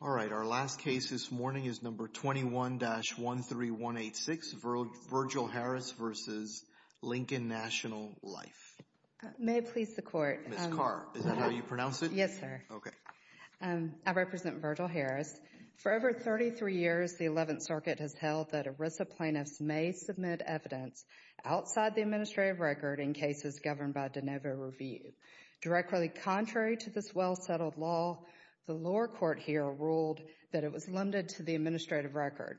Alright, our last case this morning is number 21-13186, Virgil Harris v. The Lincoln National May it please the court. Ms. Carr, is that how you pronounce it? Yes, sir. Okay. I represent Virgil Harris. For over 33 years, the 11th Circuit has held that ERISA plaintiffs may submit evidence outside the administrative record in cases governed by de novo review. Directly contrary to this well-settled law, the lower court here ruled that it was limited to the administrative record.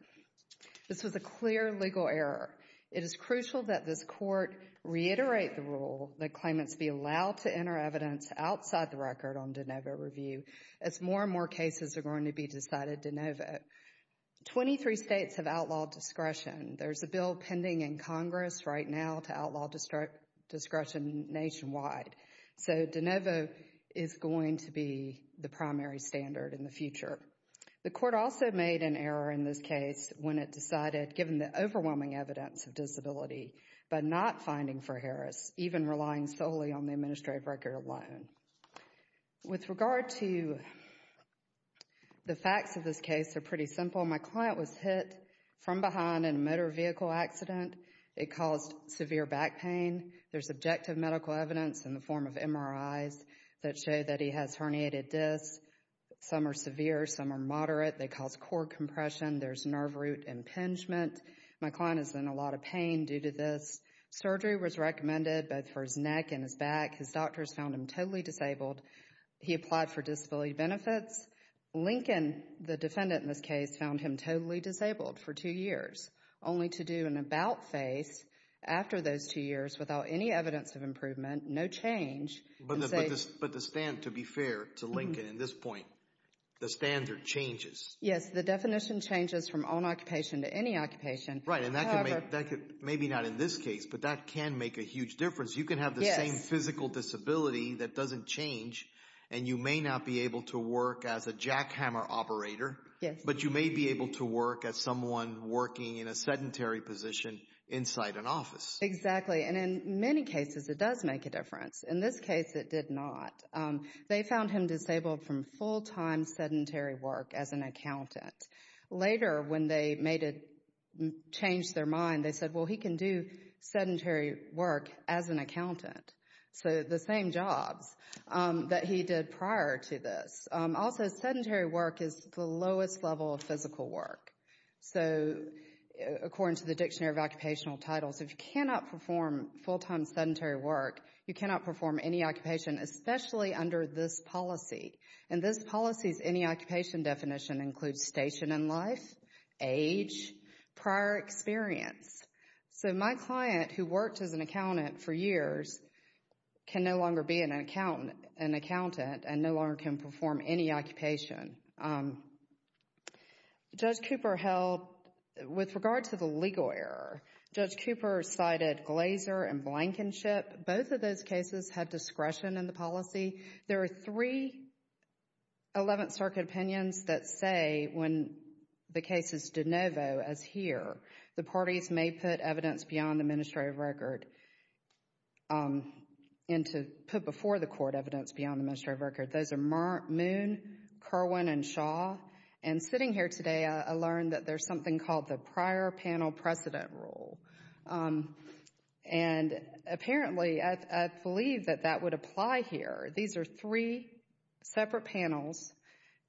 This was a clear legal error. It is crucial that this court reiterate the rule that claimants be allowed to enter evidence outside the record on de novo review as more and more cases are going to be decided de novo. 23 states have outlawed discretion. There's a bill pending in Congress right now to outlaw discretion nationwide. So, de novo is going to be the primary standard in the future. The court also made an error in this case when it decided, given the overwhelming evidence of disability, by not finding for Harris, even relying solely on the administrative record alone. With regard to the facts of this case, they're pretty simple. My client was hit from behind in a motor vehicle accident. It caused severe back pain. There's objective medical evidence in the form of MRIs that show that he has herniated discs. Some are severe, some are moderate. They cause core compression. There's nerve root impingement. My client is in a lot of pain due to this. Surgery was recommended, both for his neck and his back. His doctors found him totally disabled. He applied for disability benefits. Lincoln, the defendant in this case, found him totally disabled for two years, only to do an about face after those two years without any evidence of improvement, no change. But the standard, to be fair to Lincoln at this point, the standard changes. Yes, the definition changes from on occupation to any occupation. Right, and maybe not in this case, but that can make a huge difference. You can have the same physical disability that doesn't change, and you may not be able to work as a jackhammer operator, but you may be able to work as someone working in a sedentary position inside an office. Exactly, and in many cases, it does make a difference. In this case, it did not. They found him disabled from full-time sedentary work as an accountant. Later, when they changed their mind, they said, well, he can do sedentary work as an accountant, so the same jobs that he did prior to this. Also, sedentary work is the lowest level of physical work. So, according to the Dictionary of Occupational Titles, if you cannot perform full-time sedentary work, you cannot perform any occupation, especially under this policy. And this policy's any occupation definition includes station in life, age, prior experience. So, my client, who worked as an accountant for years, can no longer be an accountant and no longer can perform any occupation. Judge Cooper held, with regard to the legal error, Judge Cooper cited Glaser and Blankenship. Both of those cases have discretion in the policy. There are three Eleventh Circuit opinions that say, when the case is de novo, as here, the parties may put evidence beyond the administrative record, put before the court evidence beyond the administrative record. Those are Moon, Kerwin, and Shaw. And sitting here today, I learned that there's something called the Prior Panel Precedent Rule. And apparently, I believe that that would apply here. These are three separate panels,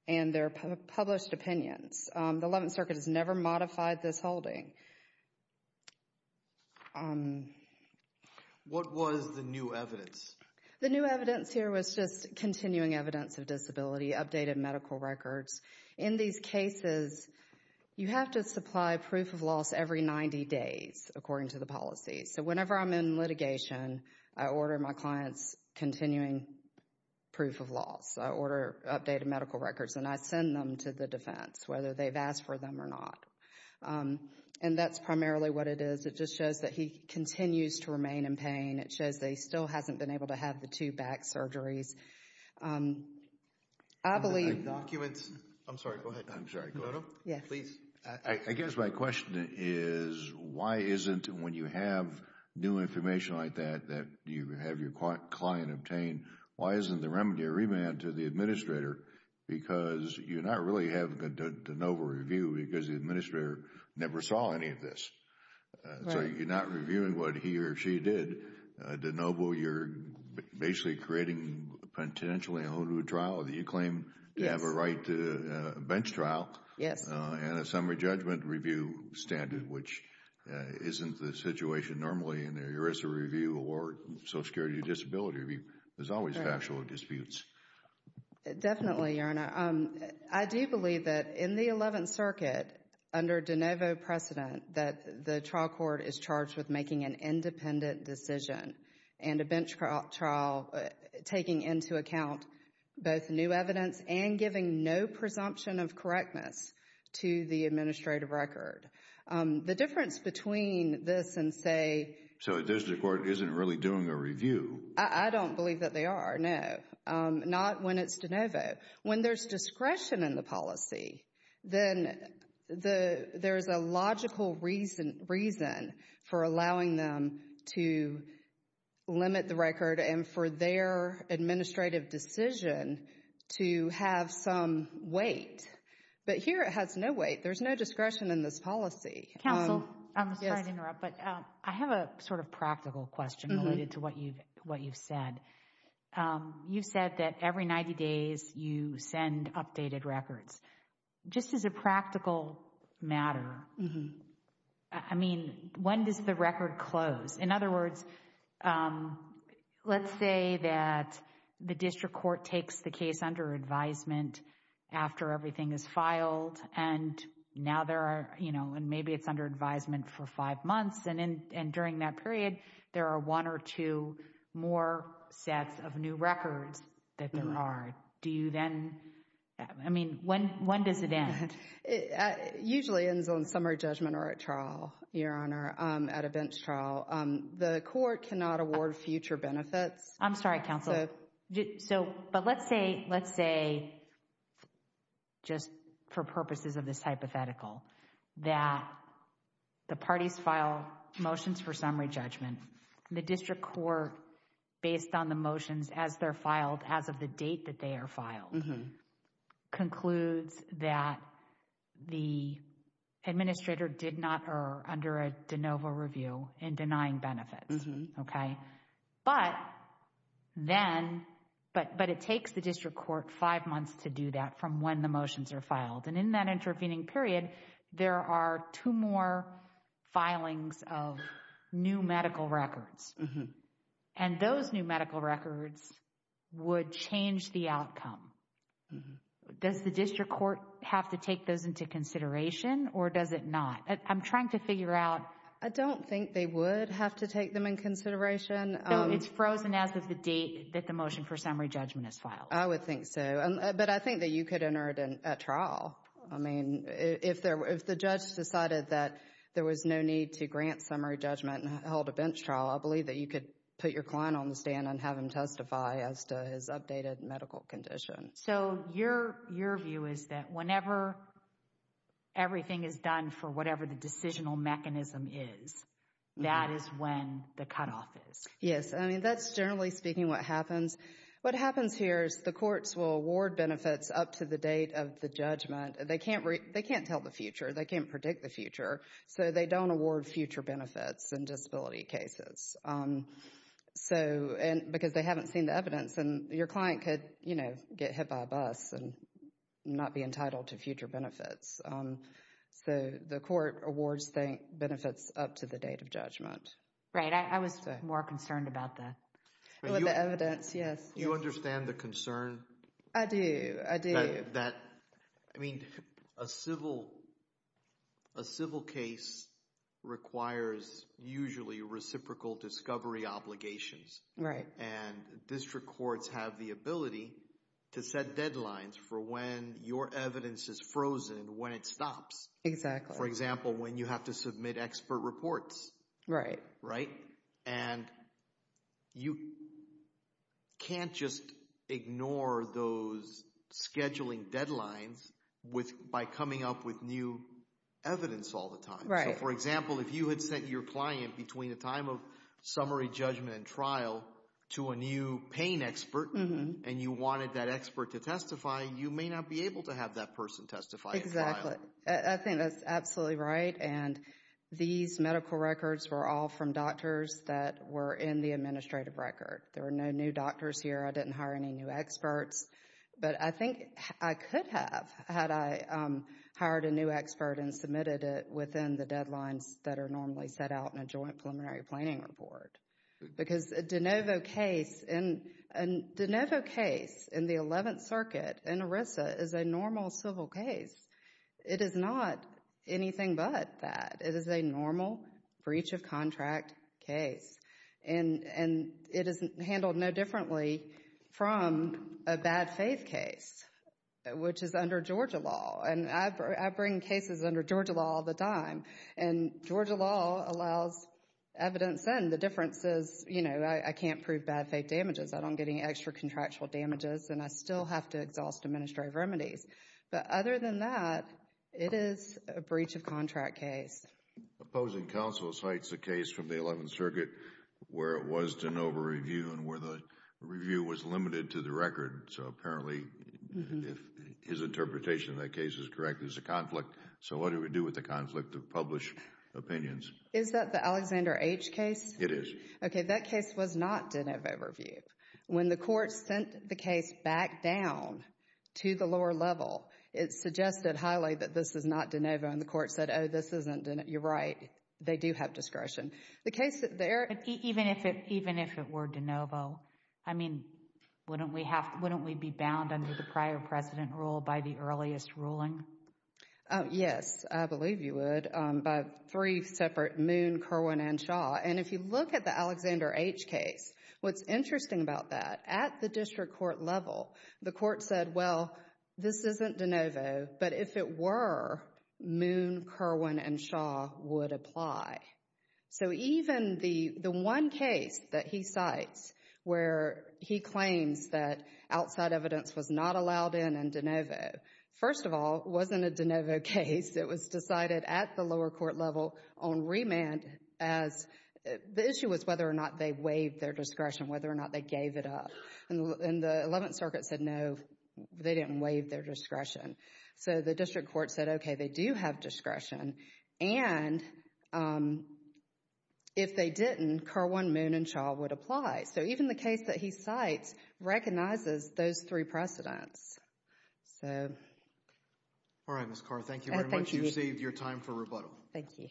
and they're published opinions. The Eleventh Circuit has never modified this holding. What was the new evidence? The new evidence here was just continuing evidence of disability, updated medical records. In these cases, you have to supply proof of loss every 90 days, according to the policy. So, whenever I'm in litigation, I order my clients continuing proof of loss. I order updated medical records, and I send them to the defense, whether they've asked for them or not. And that's primarily what it is. It just shows that he continues to remain in pain. It shows that he still hasn't been able to have the two back surgeries. I believe the— I'm sorry, go ahead. I'm sorry, go ahead. Please. I guess my question is, why isn't, when you have new information like that, that you have your client obtain, why isn't the remedy a remand to the administrator? Because you're not really having a de novo review, because the administrator never saw any of this. Right. You're not reviewing what he or she did. De novo, you're basically creating, potentially, a whole new trial that you claim to have a right to, a bench trial. Yes. And a summary judgment review standard, which isn't the situation normally in a ERISA review or Social Security disability review. There's always factual disputes. Definitely, Your Honor. I do believe that in the Eleventh Circuit, under de novo precedent, that the trial court is charged with making an independent decision and a bench trial, taking into account both new evidence and giving no presumption of correctness to the administrative record. The difference between this and, say— So the district court isn't really doing a review. I don't believe that they are, no. Not when it's de novo. When there's discretion in the policy, then there's a logical reason for allowing them to limit the record and for their administrative decision to have some weight. But here it has no weight. There's no discretion in this policy. Counsel, I'm sorry to interrupt, but I have a sort of practical question related to what you've said. You've said that every 90 days you send updated records. Just as a practical matter, I mean, when does the record close? In other words, let's say that the district court takes the case under advisement after everything is filed and now there are, you know, and maybe it's under advisement for five months and during that period there are one or two more sets of new records that there are. Do you then, I mean, when does it end? It usually ends on summary judgment or a trial, Your Honor, at a bench trial. The court cannot award future benefits. I'm sorry, counsel. But let's say, just for purposes of this hypothetical, that the parties file motions for summary judgment. The district court, based on the motions as they're filed, as of the date that they are filed, concludes that the administrator did not err under a de novo review in denying benefits. Okay. But then, but it takes the district court five months to do that from when the motions are filed. And in that intervening period, there are two more filings of new medical records. And those new medical records would change the outcome. Does the district court have to take those into consideration or does it not? I'm trying to figure out. I don't think they would have to take them in consideration. It's frozen as of the date that the motion for summary judgment is filed. I would think so. But I think that you could enter it in a trial. I mean, if the judge decided that there was no need to grant summary judgment and held a bench trial, I believe that you could put your client on the stand and have him testify as to his updated medical condition. So your view is that whenever everything is done for whatever the decisional mechanism is, that is when the cutoff is? Yes. I mean, that's generally speaking what happens. What happens here is the courts will award benefits up to the date of the judgment. They can't tell the future. They can't predict the future. So they don't award future benefits in disability cases. Because they haven't seen the evidence and your client could, you know, get hit by a bus and not be entitled to future benefits. So the court awards benefits up to the date of judgment. Right. I was more concerned about that. With the evidence, yes. Do you understand the concern? I do. I do. I mean, a civil case requires usually reciprocal discovery obligations. Right. And district courts have the ability to set deadlines for when your evidence is frozen, when it stops. Exactly. For example, when you have to submit expert reports. Right. And you can't just ignore those scheduling deadlines by coming up with new evidence all the time. Right. So, for example, if you had sent your client between the time of summary judgment and trial to a new pain expert and you wanted that expert to testify, you may not be able to have that person testify in trial. I think that's absolutely right. And these medical records were all from doctors that were in the administrative record. There were no new doctors here. I didn't hire any new experts. But I think I could have had I hired a new expert and submitted it within the deadlines that are normally set out in a joint preliminary planning report. Because a de novo case in the 11th Circuit in ERISA is a normal civil case. It is not anything but that. It is a normal breach of contract case. And it is handled no differently from a bad faith case, which is under Georgia law. And I bring cases under Georgia law all the time. And Georgia law allows evidence in. The difference is, you know, I can't prove bad faith damages. I don't get any extra contractual damages. And I still have to exhaust administrative remedies. But other than that, it is a breach of contract case. Opposing counsel cites a case from the 11th Circuit where it was de novo review and where the review was limited to the record. So, apparently, if his interpretation of that case is correct, there's a conflict. So, what do we do with the conflict of published opinions? Is that the Alexander H. case? It is. Okay, that case was not de novo review. When the court sent the case back down to the lower level, it suggested highly that this is not de novo. And the court said, oh, this isn't de novo. You're right. They do have discretion. Even if it were de novo, I mean, wouldn't we be bound under the prior precedent rule by the earliest ruling? Yes, I believe you would, by three separate Moon, Kerwin, and Shaw. And if you look at the Alexander H. case, what's interesting about that, at the district court level, the court said, well, this isn't de novo. But if it were, Moon, Kerwin, and Shaw would apply. So, even the one case that he cites where he claims that outside evidence was not allowed in and de novo, first of all, it wasn't a de novo case. It was decided at the lower court level on remand as the issue was whether or not they waived their discretion, whether or not they gave it up. And the Eleventh Circuit said, no, they didn't waive their discretion. So, the district court said, okay, they do have discretion. And if they didn't, Kerwin, Moon, and Shaw would apply. So, even the case that he cites recognizes those three precedents. All right, Ms. Carr, thank you very much. Thank you. You've saved your time for rebuttal. Thank you.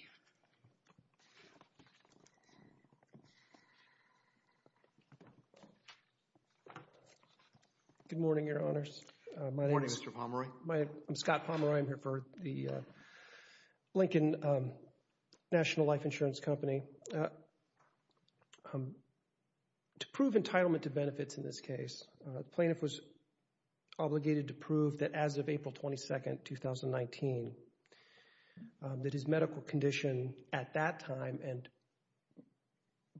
Good morning, Your Honors. Good morning, Mr. Pomeroy. I'm Scott Pomeroy. I'm here for the Lincoln National Life Insurance Company. So, to prove entitlement to benefits in this case, the plaintiff was obligated to prove that as of April 22, 2019, that his medical condition at that time and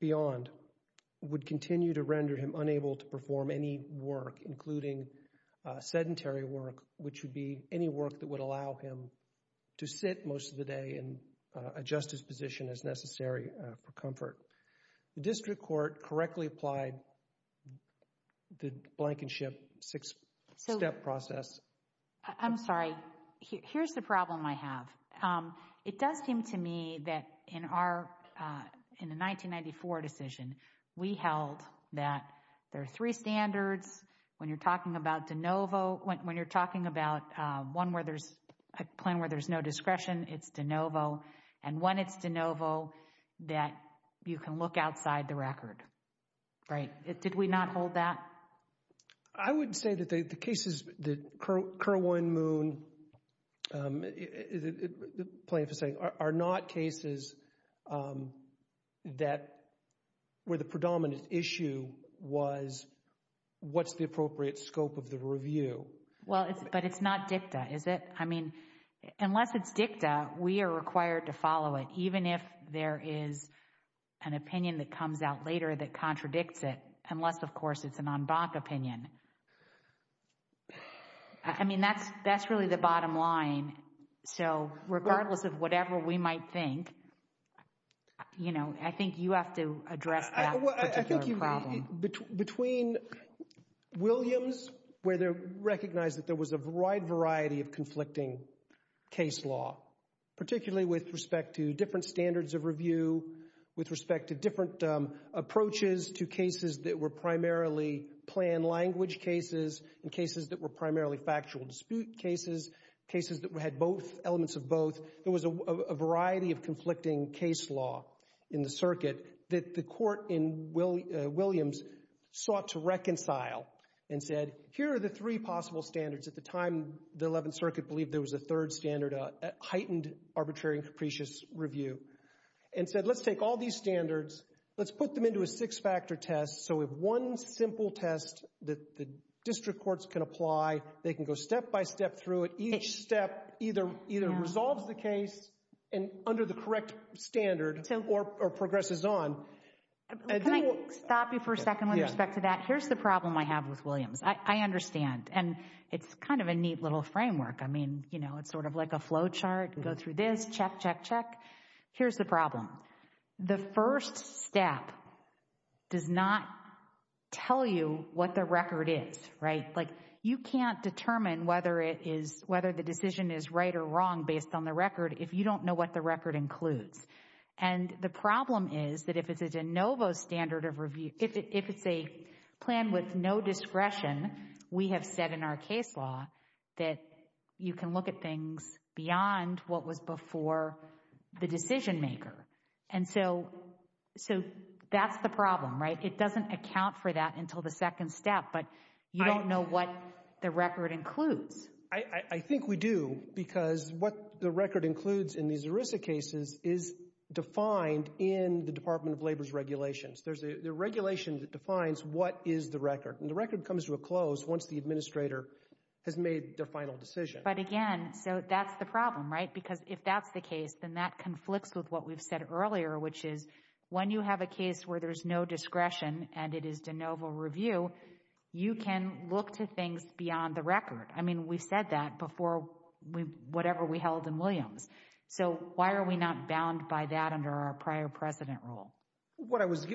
beyond would continue to render him unable to perform any work, including sedentary work, which would be any work that would allow him to sit most of the day and adjust his position as necessary for comfort. The district court correctly applied the blankenship six-step process. I'm sorry. Here's the problem I have. It does seem to me that in the 1994 decision, we held that there are three standards when you're talking about de novo, when you're talking about a plan where there's no discretion, it's de novo, and when it's de novo, that you can look outside the record, right? Did we not hold that? I would say that the cases that Kerwin Moon, the plaintiff is saying, are not cases that where the predominant issue was what's the appropriate scope of the review. Well, but it's not dicta, is it? I mean, unless it's dicta, we are required to follow it, even if there is an opinion that comes out later that contradicts it, unless, of course, it's an en banc opinion. I mean, that's really the bottom line. So regardless of whatever we might think, you know, I think you have to address that particular problem. Between Williams, where they recognized that there was a wide variety of conflicting case law, particularly with respect to different standards of review, with respect to different approaches to cases that were primarily planned language cases and cases that were primarily factual dispute cases, cases that had elements of both, there was a variety of conflicting case law in the circuit that the court in Williams sought to reconcile and said, here are the three possible standards. At the time, the Eleventh Circuit believed there was a third standard, a heightened arbitrary and capricious review, and said, let's take all these standards, let's put them into a six-factor test, so if one simple test that the district courts can apply, they can go step by step through it. Each step either resolves the case under the correct standard or progresses on. Can I stop you for a second with respect to that? Here's the problem I have with Williams. I understand, and it's kind of a neat little framework. I mean, you know, it's sort of like a flow chart. You go through this, check, check, check. Here's the problem. The first step does not tell you what the record is, right? Like, you can't determine whether the decision is right or wrong based on the record if you don't know what the record includes. And the problem is that if it's a de novo standard of review, if it's a plan with no discretion, we have said in our case law that you can look at things beyond what was before the decision maker. And so that's the problem, right? It doesn't account for that until the second step, but you don't know what the record includes. I think we do because what the record includes in these ERISA cases is defined in the Department of Labor's regulations. There's a regulation that defines what is the record. And the record comes to a close once the administrator has made their final decision. But again, so that's the problem, right? Because if that's the case, then that conflicts with what we've said earlier, which is when you have a case where there's no discretion and it is de novo review, you can look to things beyond the record. I mean, we've said that before whatever we held in Williams. So why are we not bound by that under our prior precedent rule? I was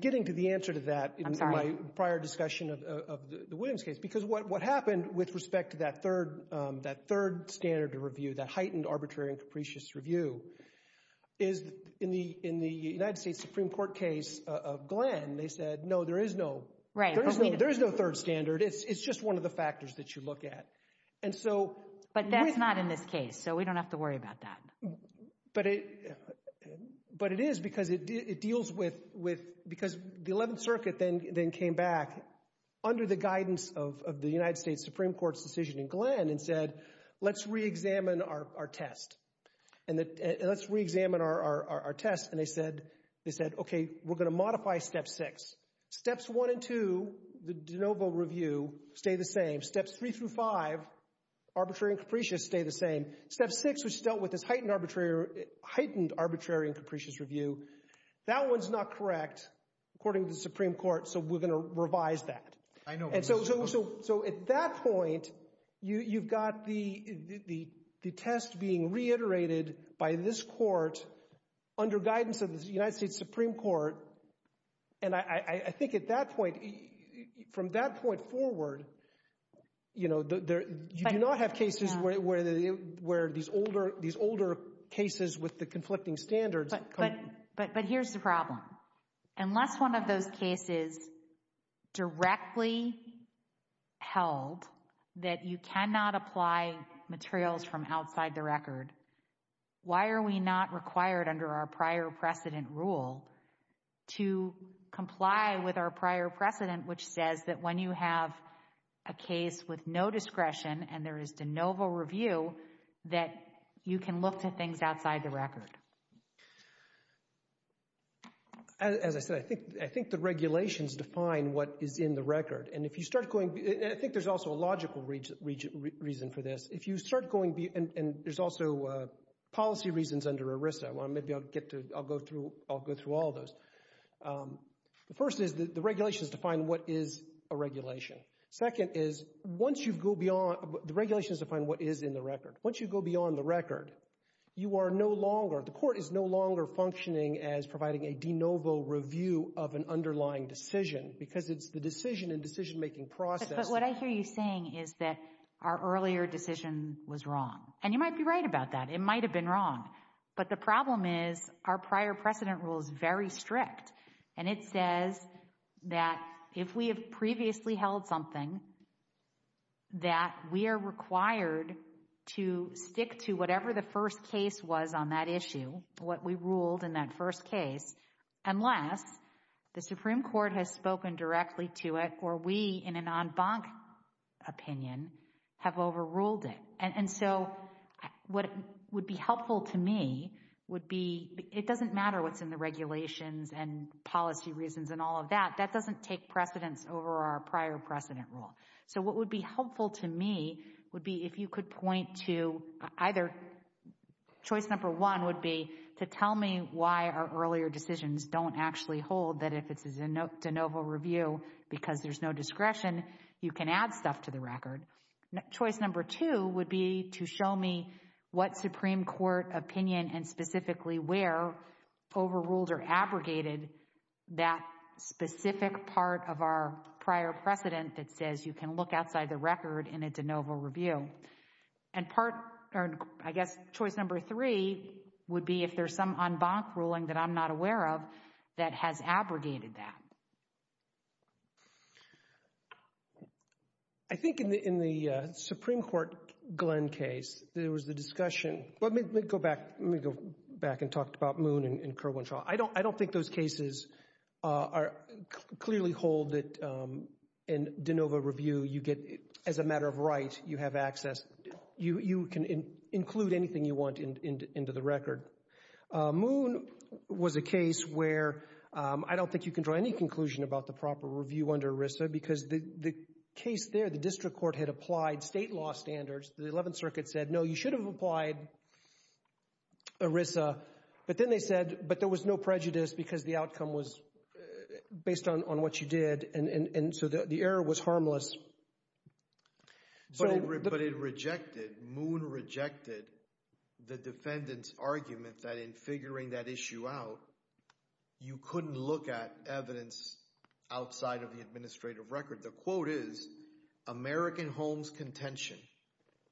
getting to the answer to that in my prior discussion of the Williams case because what happened with respect to that third standard review, that heightened arbitrary and capricious review, is in the United States Supreme Court case of Glenn, they said, no, there is no third standard. It's just one of the factors that you look at. But that's not in this case, so we don't have to worry about that. But it is because it deals with, because the 11th Circuit then came back under the guidance of the United States Supreme Court's decision in Glenn and said, let's reexamine our test. And let's reexamine our test. And they said, okay, we're going to modify Step 6. Steps 1 and 2, the de novo review, stay the same. Steps 3 through 5, arbitrary and capricious, stay the same. Step 6, which dealt with this heightened arbitrary and capricious review, that one's not correct according to the Supreme Court, so we're going to revise that. So at that point, you've got the test being reiterated by this court under guidance of the United States Supreme Court. And I think at that point, from that point forward, you do not have cases where these older cases with the conflicting standards. But here's the problem. Unless one of those cases directly held that you cannot apply materials from outside the record, why are we not required under our prior precedent rule to comply with our prior precedent, which says that when you have a case with no discretion and there is de novo review, that you can look to things outside the record? As I said, I think the regulations define what is in the record. And I think there's also a logical reason for this. And there's also policy reasons under ERISA. Maybe I'll go through all those. The first is the regulations define what is a regulation. Second is once you go beyond—the regulations define what is in the record. Once you go beyond the record, you are no longer— the court is no longer functioning as providing a de novo review of an underlying decision because it's the decision and decision-making process— But what I hear you saying is that our earlier decision was wrong. And you might be right about that. It might have been wrong. But the problem is our prior precedent rule is very strict. And it says that if we have previously held something, that we are required to stick to whatever the first case was on that issue, what we ruled in that first case, unless the Supreme Court has spoken directly to it or we, in an en banc opinion, have overruled it. And so what would be helpful to me would be— it doesn't matter what's in the regulations and policy reasons and all of that. That doesn't take precedence over our prior precedent rule. So what would be helpful to me would be if you could point to either— choice number one would be to tell me why our earlier decisions don't actually hold that if it's a de novo review because there's no discretion, you can add stuff to the record. Choice number two would be to show me what Supreme Court opinion and specifically where overruled or abrogated that specific part of our prior precedent that says you can look outside the record in a de novo review. And I guess choice number three would be if there's some en banc ruling that I'm not aware of that has abrogated that. I think in the Supreme Court Glenn case, there was a discussion— let me go back and talk about Moon and Kerwin-Shaw. I don't think those cases clearly hold that in de novo review, you get—as a matter of right, you have access. You can include anything you want into the record. Moon was a case where I don't think you can draw any conclusion about the proper review under ERISA because the case there, the district court had applied state law standards. The Eleventh Circuit said, no, you should have applied ERISA. But then they said, but there was no prejudice because the outcome was based on what you did, and so the error was harmless. But it rejected—Moon rejected the defendant's argument that in figuring that issue out, you couldn't look at evidence outside of the administrative record. The quote is, American homes contention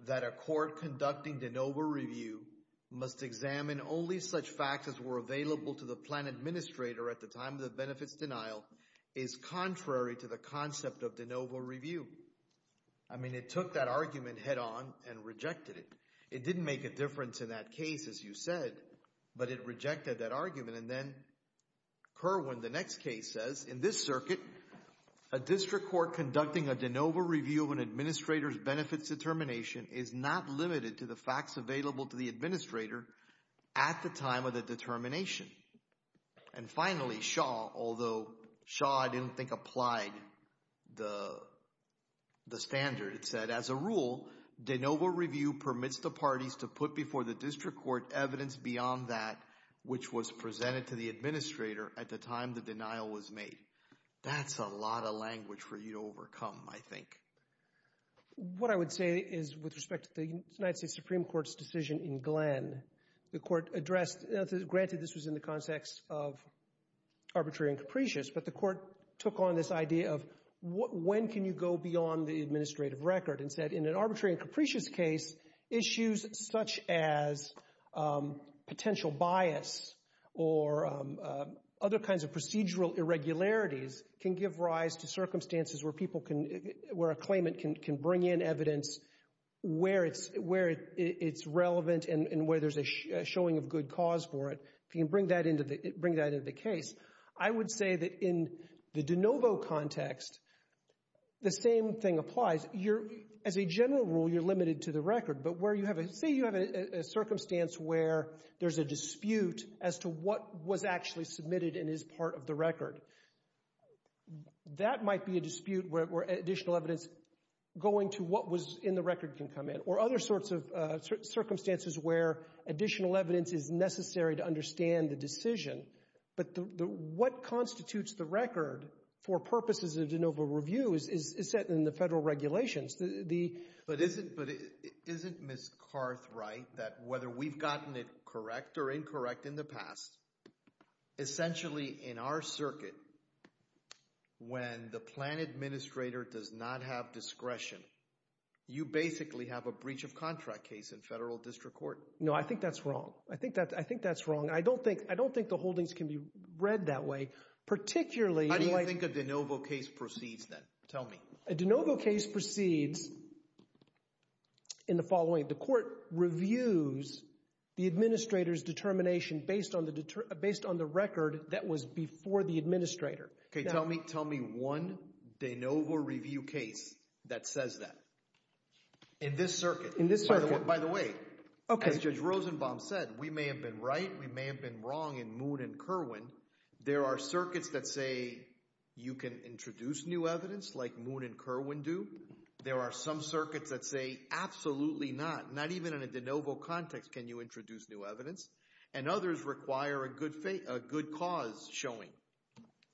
that a court conducting de novo review must examine only such facts as were available to the plan administrator at the time of the benefits denial is contrary to the concept of de novo review. I mean, it took that argument head-on and rejected it. It didn't make a difference in that case, as you said, but it rejected that argument. And then Kerwin, the next case says, in this circuit, a district court conducting a de novo review of an administrator's benefits determination is not limited to the facts available to the administrator at the time of the determination. And finally, Shaw, although Shaw, I didn't think, applied the standard. It said, as a rule, de novo review permits the parties to put before the district court evidence beyond that which was presented to the administrator at the time the denial was made. That's a lot of language for you to overcome, I think. What I would say is with respect to the United States Supreme Court's decision in Glenn, the court addressed, granted this was in the context of arbitrary and capricious, but the court took on this idea of when can you go beyond the administrative record and said in an arbitrary and capricious case, issues such as potential bias or other kinds of procedural irregularities can give rise to circumstances where a claimant can bring in evidence where it's relevant and where there's a showing of good cause for it. If you can bring that into the case, I would say that in the de novo context, the same thing applies. As a general rule, you're limited to the record, but say you have a circumstance where there's a dispute as to what was actually submitted and is part of the record. That might be a dispute where additional evidence going to what was in the record can come in or other sorts of circumstances where additional evidence is necessary to understand the decision. But what constitutes the record for purposes of de novo review is set in the federal regulations. But isn't Ms. Karth right that whether we've gotten it correct or incorrect in the past, essentially in our circuit, when the plan administrator does not have discretion, you basically have a breach of contract case in federal district court? No, I think that's wrong. I think that's wrong. I don't think the holdings can be read that way, particularly in light of— How do you think a de novo case proceeds then? Tell me. A de novo case proceeds in the following. The court reviews the administrator's determination based on the record that was before the administrator. Tell me one de novo review case that says that in this circuit. In this circuit. By the way, as Judge Rosenbaum said, we may have been right, we may have been wrong in Moon and Kerwin. There are circuits that say you can introduce new evidence like Moon and Kerwin do. There are some circuits that say absolutely not, not even in a de novo context can you introduce new evidence. And others require a good cause showing.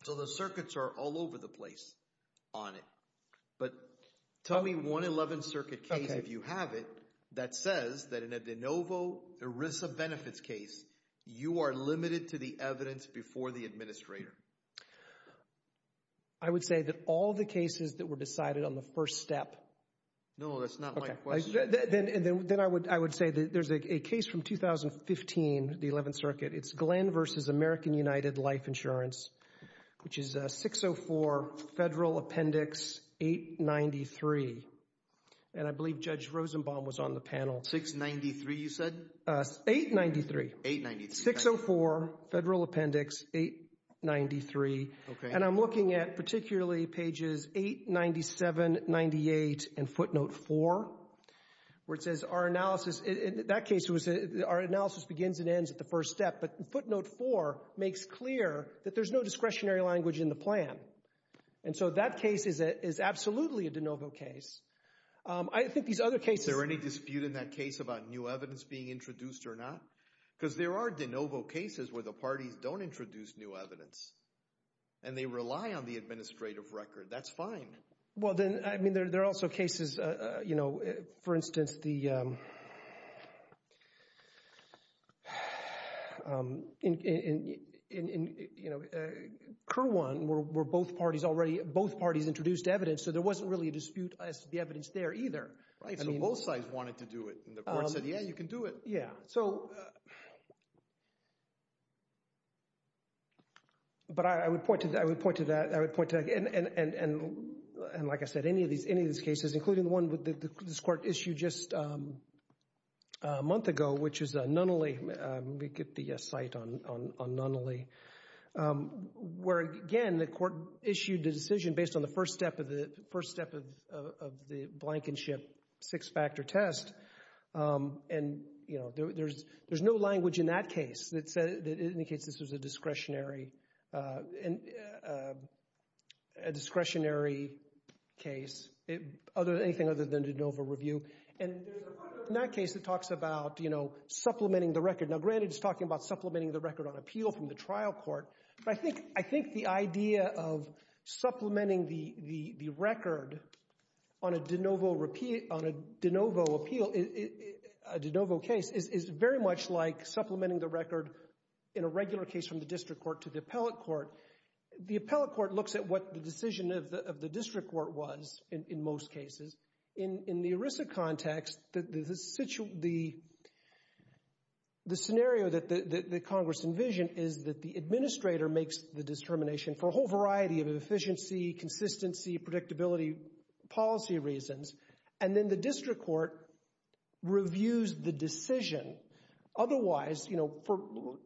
So the circuits are all over the place on it. But tell me one 11th Circuit case, if you have it, that says that in a de novo ERISA benefits case, you are limited to the evidence before the administrator. I would say that all the cases that were decided on the first step. No, that's not my question. Then I would say that there's a case from 2015, the 11th Circuit. It's Glenn v. American United Life Insurance, which is 604 Federal Appendix 893. And I believe Judge Rosenbaum was on the panel. 693, you said? 893. 893. 604 Federal Appendix 893. And I'm looking at particularly pages 897, 98, and footnote 4. Where it says our analysis, in that case, our analysis begins and ends at the first step. But footnote 4 makes clear that there's no discretionary language in the plan. And so that case is absolutely a de novo case. I think these other cases— Is there any dispute in that case about new evidence being introduced or not? Because there are de novo cases where the parties don't introduce new evidence. And they rely on the administrative record. That's fine. Well, then, I mean, there are also cases, you know, for instance, the— Kirwan, where both parties already—both parties introduced evidence, so there wasn't really a dispute as to the evidence there either. And both sides wanted to do it, and the court said, yeah, you can do it. Yeah, so— But I would point to that. I would point to that. And, like I said, any of these cases, including the one that this court issued just a month ago, which is Nunnally—let me get the site on Nunnally— where, again, the court issued the decision based on the first step of the— the first step of the blankenship six-factor test. And, you know, there's no language in that case that said— a discretionary case, anything other than de novo review. And there's a part of that case that talks about, you know, supplementing the record. Now, granted, it's talking about supplementing the record on appeal from the trial court, but I think the idea of supplementing the record on a de novo appeal, a de novo case, is very much like supplementing the record in a regular case from the district court to the appellate court. The appellate court looks at what the decision of the district court was in most cases. In the ERISA context, the scenario that Congress envisioned is that the administrator makes the determination for a whole variety of efficiency, consistency, predictability, policy reasons, and then the district court reviews the decision. Otherwise, you know,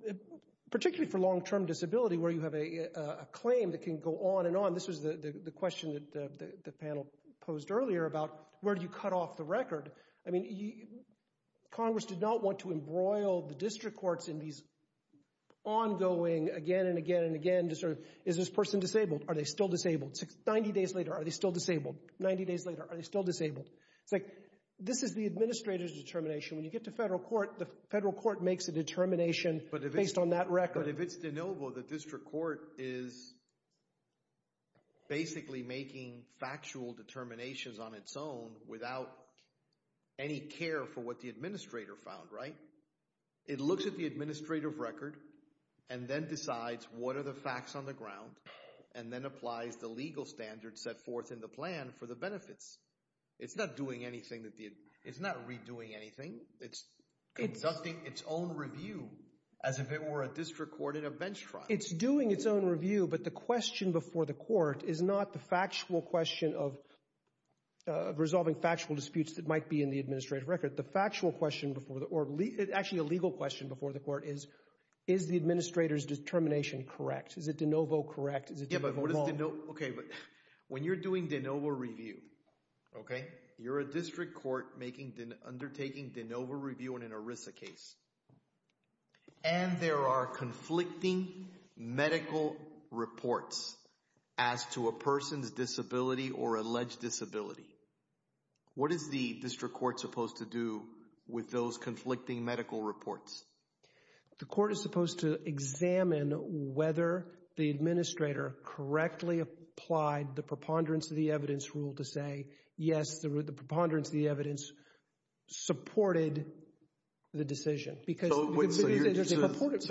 particularly for long-term disability where you have a claim that can go on and on, this was the question that the panel posed earlier about where do you cut off the record? I mean, Congress did not want to embroil the district courts in these ongoing, again and again and again, just sort of, is this person disabled? Are they still disabled? 90 days later, are they still disabled? 90 days later, are they still disabled? It's like, this is the administrator's determination. When you get to federal court, the federal court makes a determination based on that record. But if it's de novo, the district court is basically making factual determinations on its own without any care for what the administrator found, right? It looks at the administrative record and then decides what are the facts on the ground and then applies the legal standards set forth in the plan for the benefits. It's not doing anything. It's not redoing anything. It's conducting its own review as if it were a district court in a bench trial. It's doing its own review, but the question before the court is not the factual question of resolving factual disputes that might be in the administrative record. The factual question before the—or actually a legal question before the court is, is the administrator's determination correct? Is it de novo correct? Is it de novo wrong? Okay, but when you're doing de novo review, okay, you're a district court undertaking de novo review in an ERISA case, and there are conflicting medical reports as to a person's disability or alleged disability. What is the district court supposed to do with those conflicting medical reports? The court is supposed to examine whether the administrator correctly applied the preponderance of the evidence rule to say, yes, the preponderance of the evidence supported the decision because— So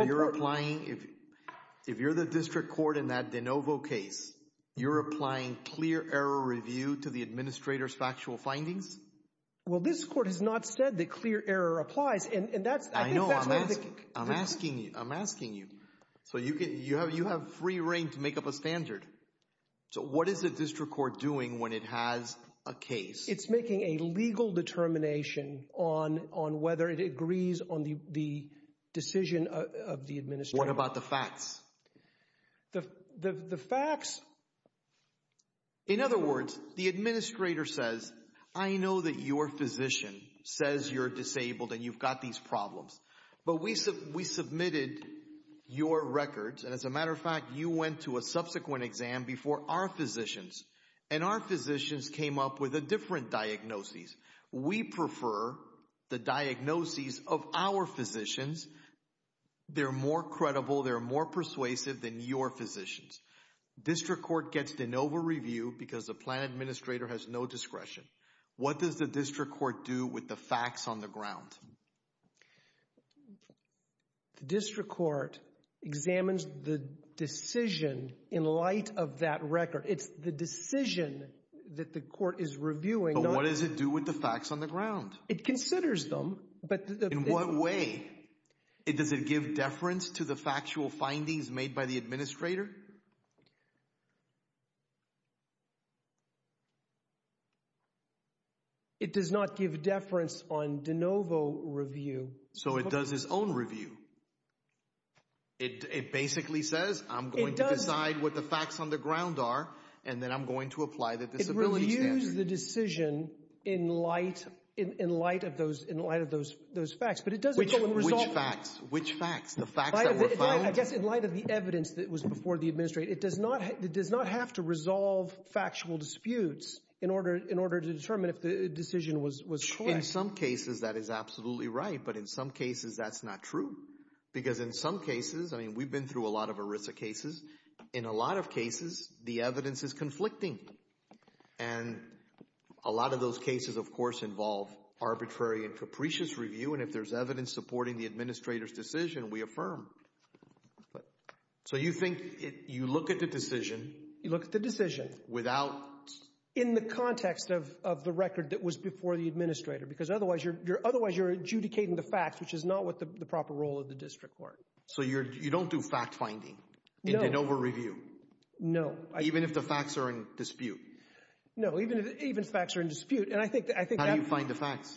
you're applying—if you're the district court in that de novo case, you're applying clear error review to the administrator's factual findings? Well, this court has not said that clear error applies, and that's— I know. I'm asking you. I'm asking you. So you have free reign to make up a standard. So what is the district court doing when it has a case? It's making a legal determination on whether it agrees on the decision of the administrator. What about the facts? The facts— In other words, the administrator says, I know that your physician says you're disabled and you've got these problems, but we submitted your records, and as a matter of fact, you went to a subsequent exam before our physicians, and our physicians came up with a different diagnosis. We prefer the diagnosis of our physicians. They're more credible. They're more persuasive than your physicians. District court gets de novo review because the plan administrator has no discretion. What does the district court do with the facts on the ground? The district court examines the decision in light of that record. It's the decision that the court is reviewing. But what does it do with the facts on the ground? It considers them, but— In what way? Does it give deference to the factual findings made by the administrator? It does not give deference on de novo review. So it does its own review. It basically says, I'm going to decide what the facts on the ground are, and then I'm going to apply the disability standard. It reviews the decision in light of those facts, but it does— Which facts? The facts that were found? I guess in light of the evidence that was before the administrator. It does not have to resolve factual disputes in order to determine if the decision was correct. In some cases, that is absolutely right, but in some cases that's not true. Because in some cases—I mean, we've been through a lot of ERISA cases. In a lot of cases, the evidence is conflicting. And a lot of those cases, of course, involve arbitrary and capricious review, and if there's evidence supporting the administrator's decision, we affirm. So you think you look at the decision— You look at the decision. —without— In the context of the record that was before the administrator, because otherwise you're adjudicating the facts, which is not the proper role of the district court. So you don't do fact-finding in de novo review? No. Even if the facts are in dispute? No, even if facts are in dispute, and I think that— How do you find the facts?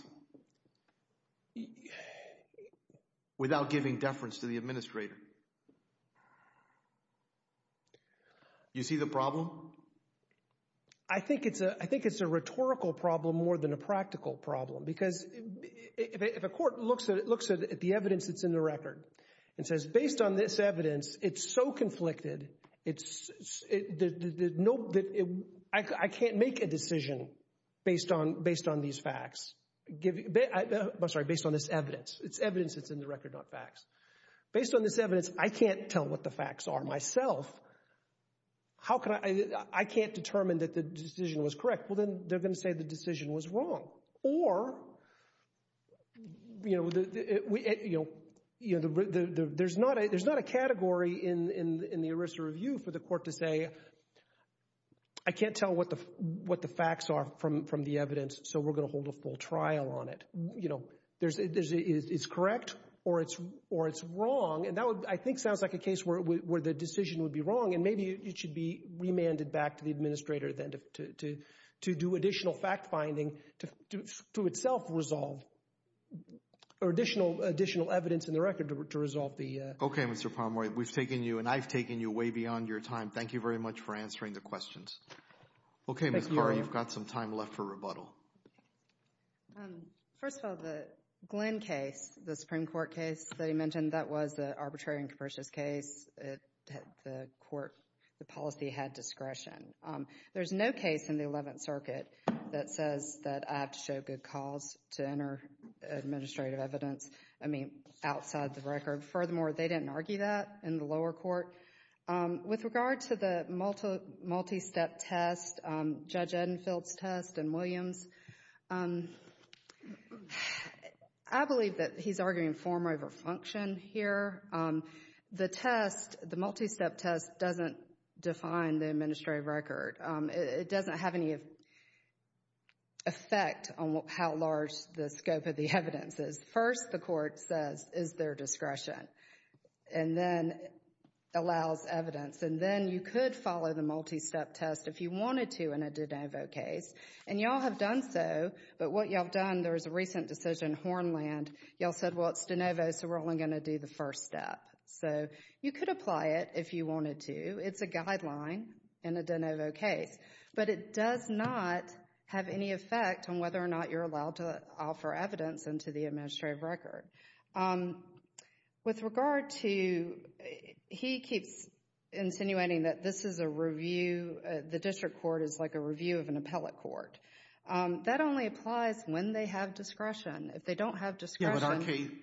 Without giving deference to the administrator. You see the problem? I think it's a rhetorical problem more than a practical problem, because if a court looks at the evidence that's in the record and says, based on this evidence, it's so conflicted, I can't make a decision based on these facts. I'm sorry, based on this evidence. It's evidence that's in the record, not facts. Based on this evidence, I can't tell what the facts are myself. I can't determine that the decision was correct. Well, then they're going to say the decision was wrong. Or there's not a category in the ERISA review for the court to say, I can't tell what the facts are from the evidence, so we're going to hold a full trial on it. It's correct or it's wrong, and that, I think, sounds like a case where the decision would be wrong, and maybe it should be remanded back to the administrator to do additional fact-finding to itself resolve or additional evidence in the record to resolve the— Okay, Mr. Palmore, we've taken you, and I've taken you, way beyond your time. Thank you very much for answering the questions. Okay, Ms. Carr, you've got some time left for rebuttal. First of all, the Glenn case, the Supreme Court case that he mentioned, that was an arbitrary and capricious case. The court, the policy had discretion. There's no case in the Eleventh Circuit that says that I have to show good cause to enter administrative evidence, I mean, outside the record. Furthermore, they didn't argue that in the lower court. With regard to the multi-step test, Judge Edenfield's test and Williams, I believe that he's arguing form over function here. The test, the multi-step test, doesn't define the administrative record. It doesn't have any effect on how large the scope of the evidence is. First, the court says, is there discretion, and then allows evidence, and then you could follow the multi-step test if you wanted to in a de novo case, and you all have done so, but what you all have done, there was a recent decision, in Hornland, you all said, well, it's de novo, so we're only going to do the first step. You could apply it if you wanted to. It's a guideline in a de novo case, but it does not have any effect on whether or not you're allowed to offer evidence into the administrative record. With regard to, he keeps insinuating that this is a review, the district court is like a review of an appellate court. That only applies when they have discretion. If they don't have discretion.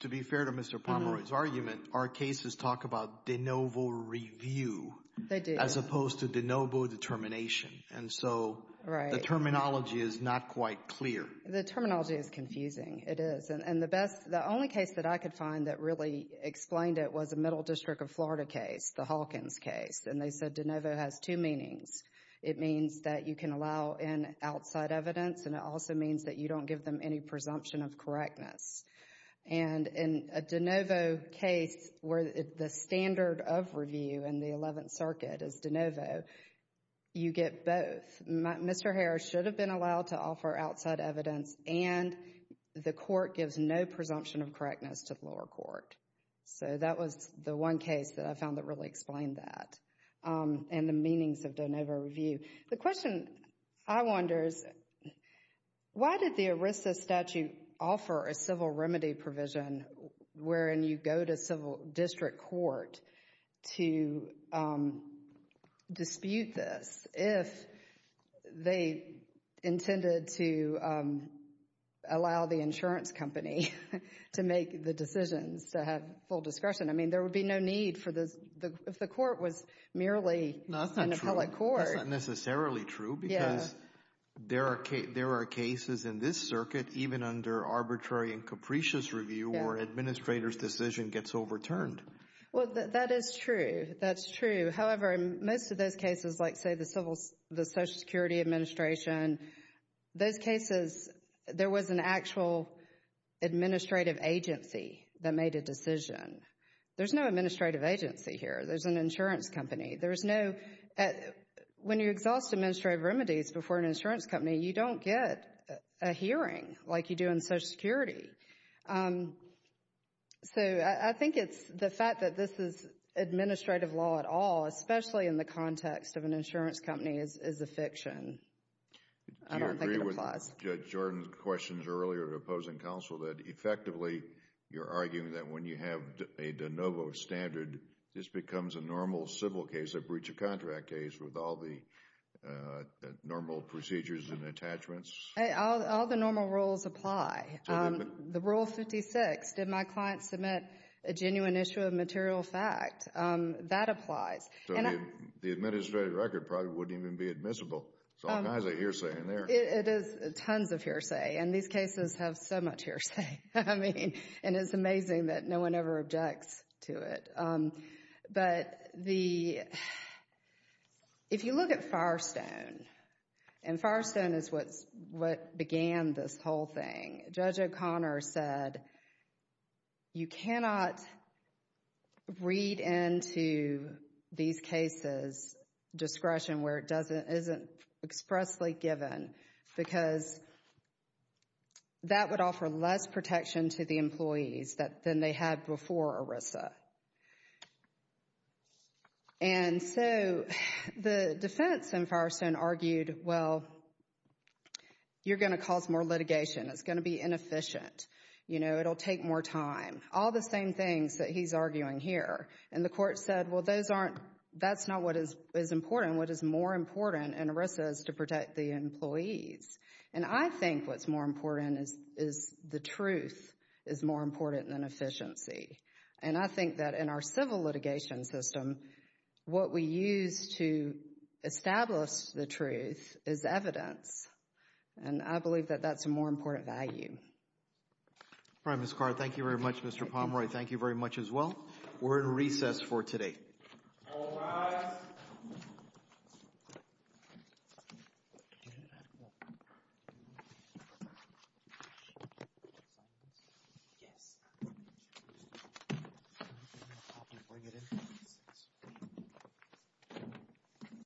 To be fair to Mr. Pomeroy's argument, our cases talk about de novo review. They do. As opposed to de novo determination, and so the terminology is not quite clear. The terminology is confusing, it is, and the only case that I could find that really explained it was a Middle District of Florida case, the Hawkins case, and they said de novo has two meanings. It means that you can allow in outside evidence and it also means that you don't give them any presumption of correctness. And in a de novo case where the standard of review in the 11th Circuit is de novo, you get both. Mr. Harris should have been allowed to offer outside evidence and the court gives no presumption of correctness to the lower court. So that was the one case that I found that really explained that and the meanings of de novo review. The question I wonder is, why did the ERISA statute offer a civil remedy provision wherein you go to civil district court to dispute this if they intended to allow the insurance company to make the decisions, to have full discretion? I mean, there would be no need for this if the court was merely an appellate court. That's not necessarily true because there are cases in this circuit, even under arbitrary and capricious review, where an administrator's decision gets overturned. Well, that is true. That's true. However, most of those cases, like say the Social Security Administration, those cases, there was an actual administrative agency that made a decision. There's no administrative agency here. There's an insurance company. There's no, when you exhaust administrative remedies before an insurance company, you don't get a hearing like you do in Social Security. So I think it's the fact that this is administrative law at all, especially in the context of an insurance company, is a fiction. I don't think it applies. Do you agree with Judge Jordan's questions earlier to opposing counsel that effectively you're arguing that when you have a de novo standard, this becomes a normal civil case, a breach of contract case, with all the normal procedures and attachments? All the normal rules apply. The Rule 56, did my client submit a genuine issue of material fact? That applies. So the administrative record probably wouldn't even be admissible. There's all kinds of hearsay in there. It is tons of hearsay, and these cases have so much hearsay. I mean, and it's amazing that no one ever objects to it. But the, if you look at Firestone, and Firestone is what began this whole thing, Judge O'Connor said, you cannot read into these cases discretion where it isn't expressly given because that would offer less protection to the employees than they had before ERISA. And so the defense in Firestone argued, well, you're going to cause more litigation. It's going to be inefficient. You know, it'll take more time. All the same things that he's arguing here. And the court said, well, those aren't, that's not what is important. What is more important in ERISA is to protect the employees. And I think what's more important is the truth is more important than efficiency. And I think that in our civil litigation system, what we use to establish the truth is evidence. And I believe that that's a more important value. All right, Ms. Carr. Thank you very much, Mr. Pomeroy. Thank you very much as well. We're in recess for today. All rise.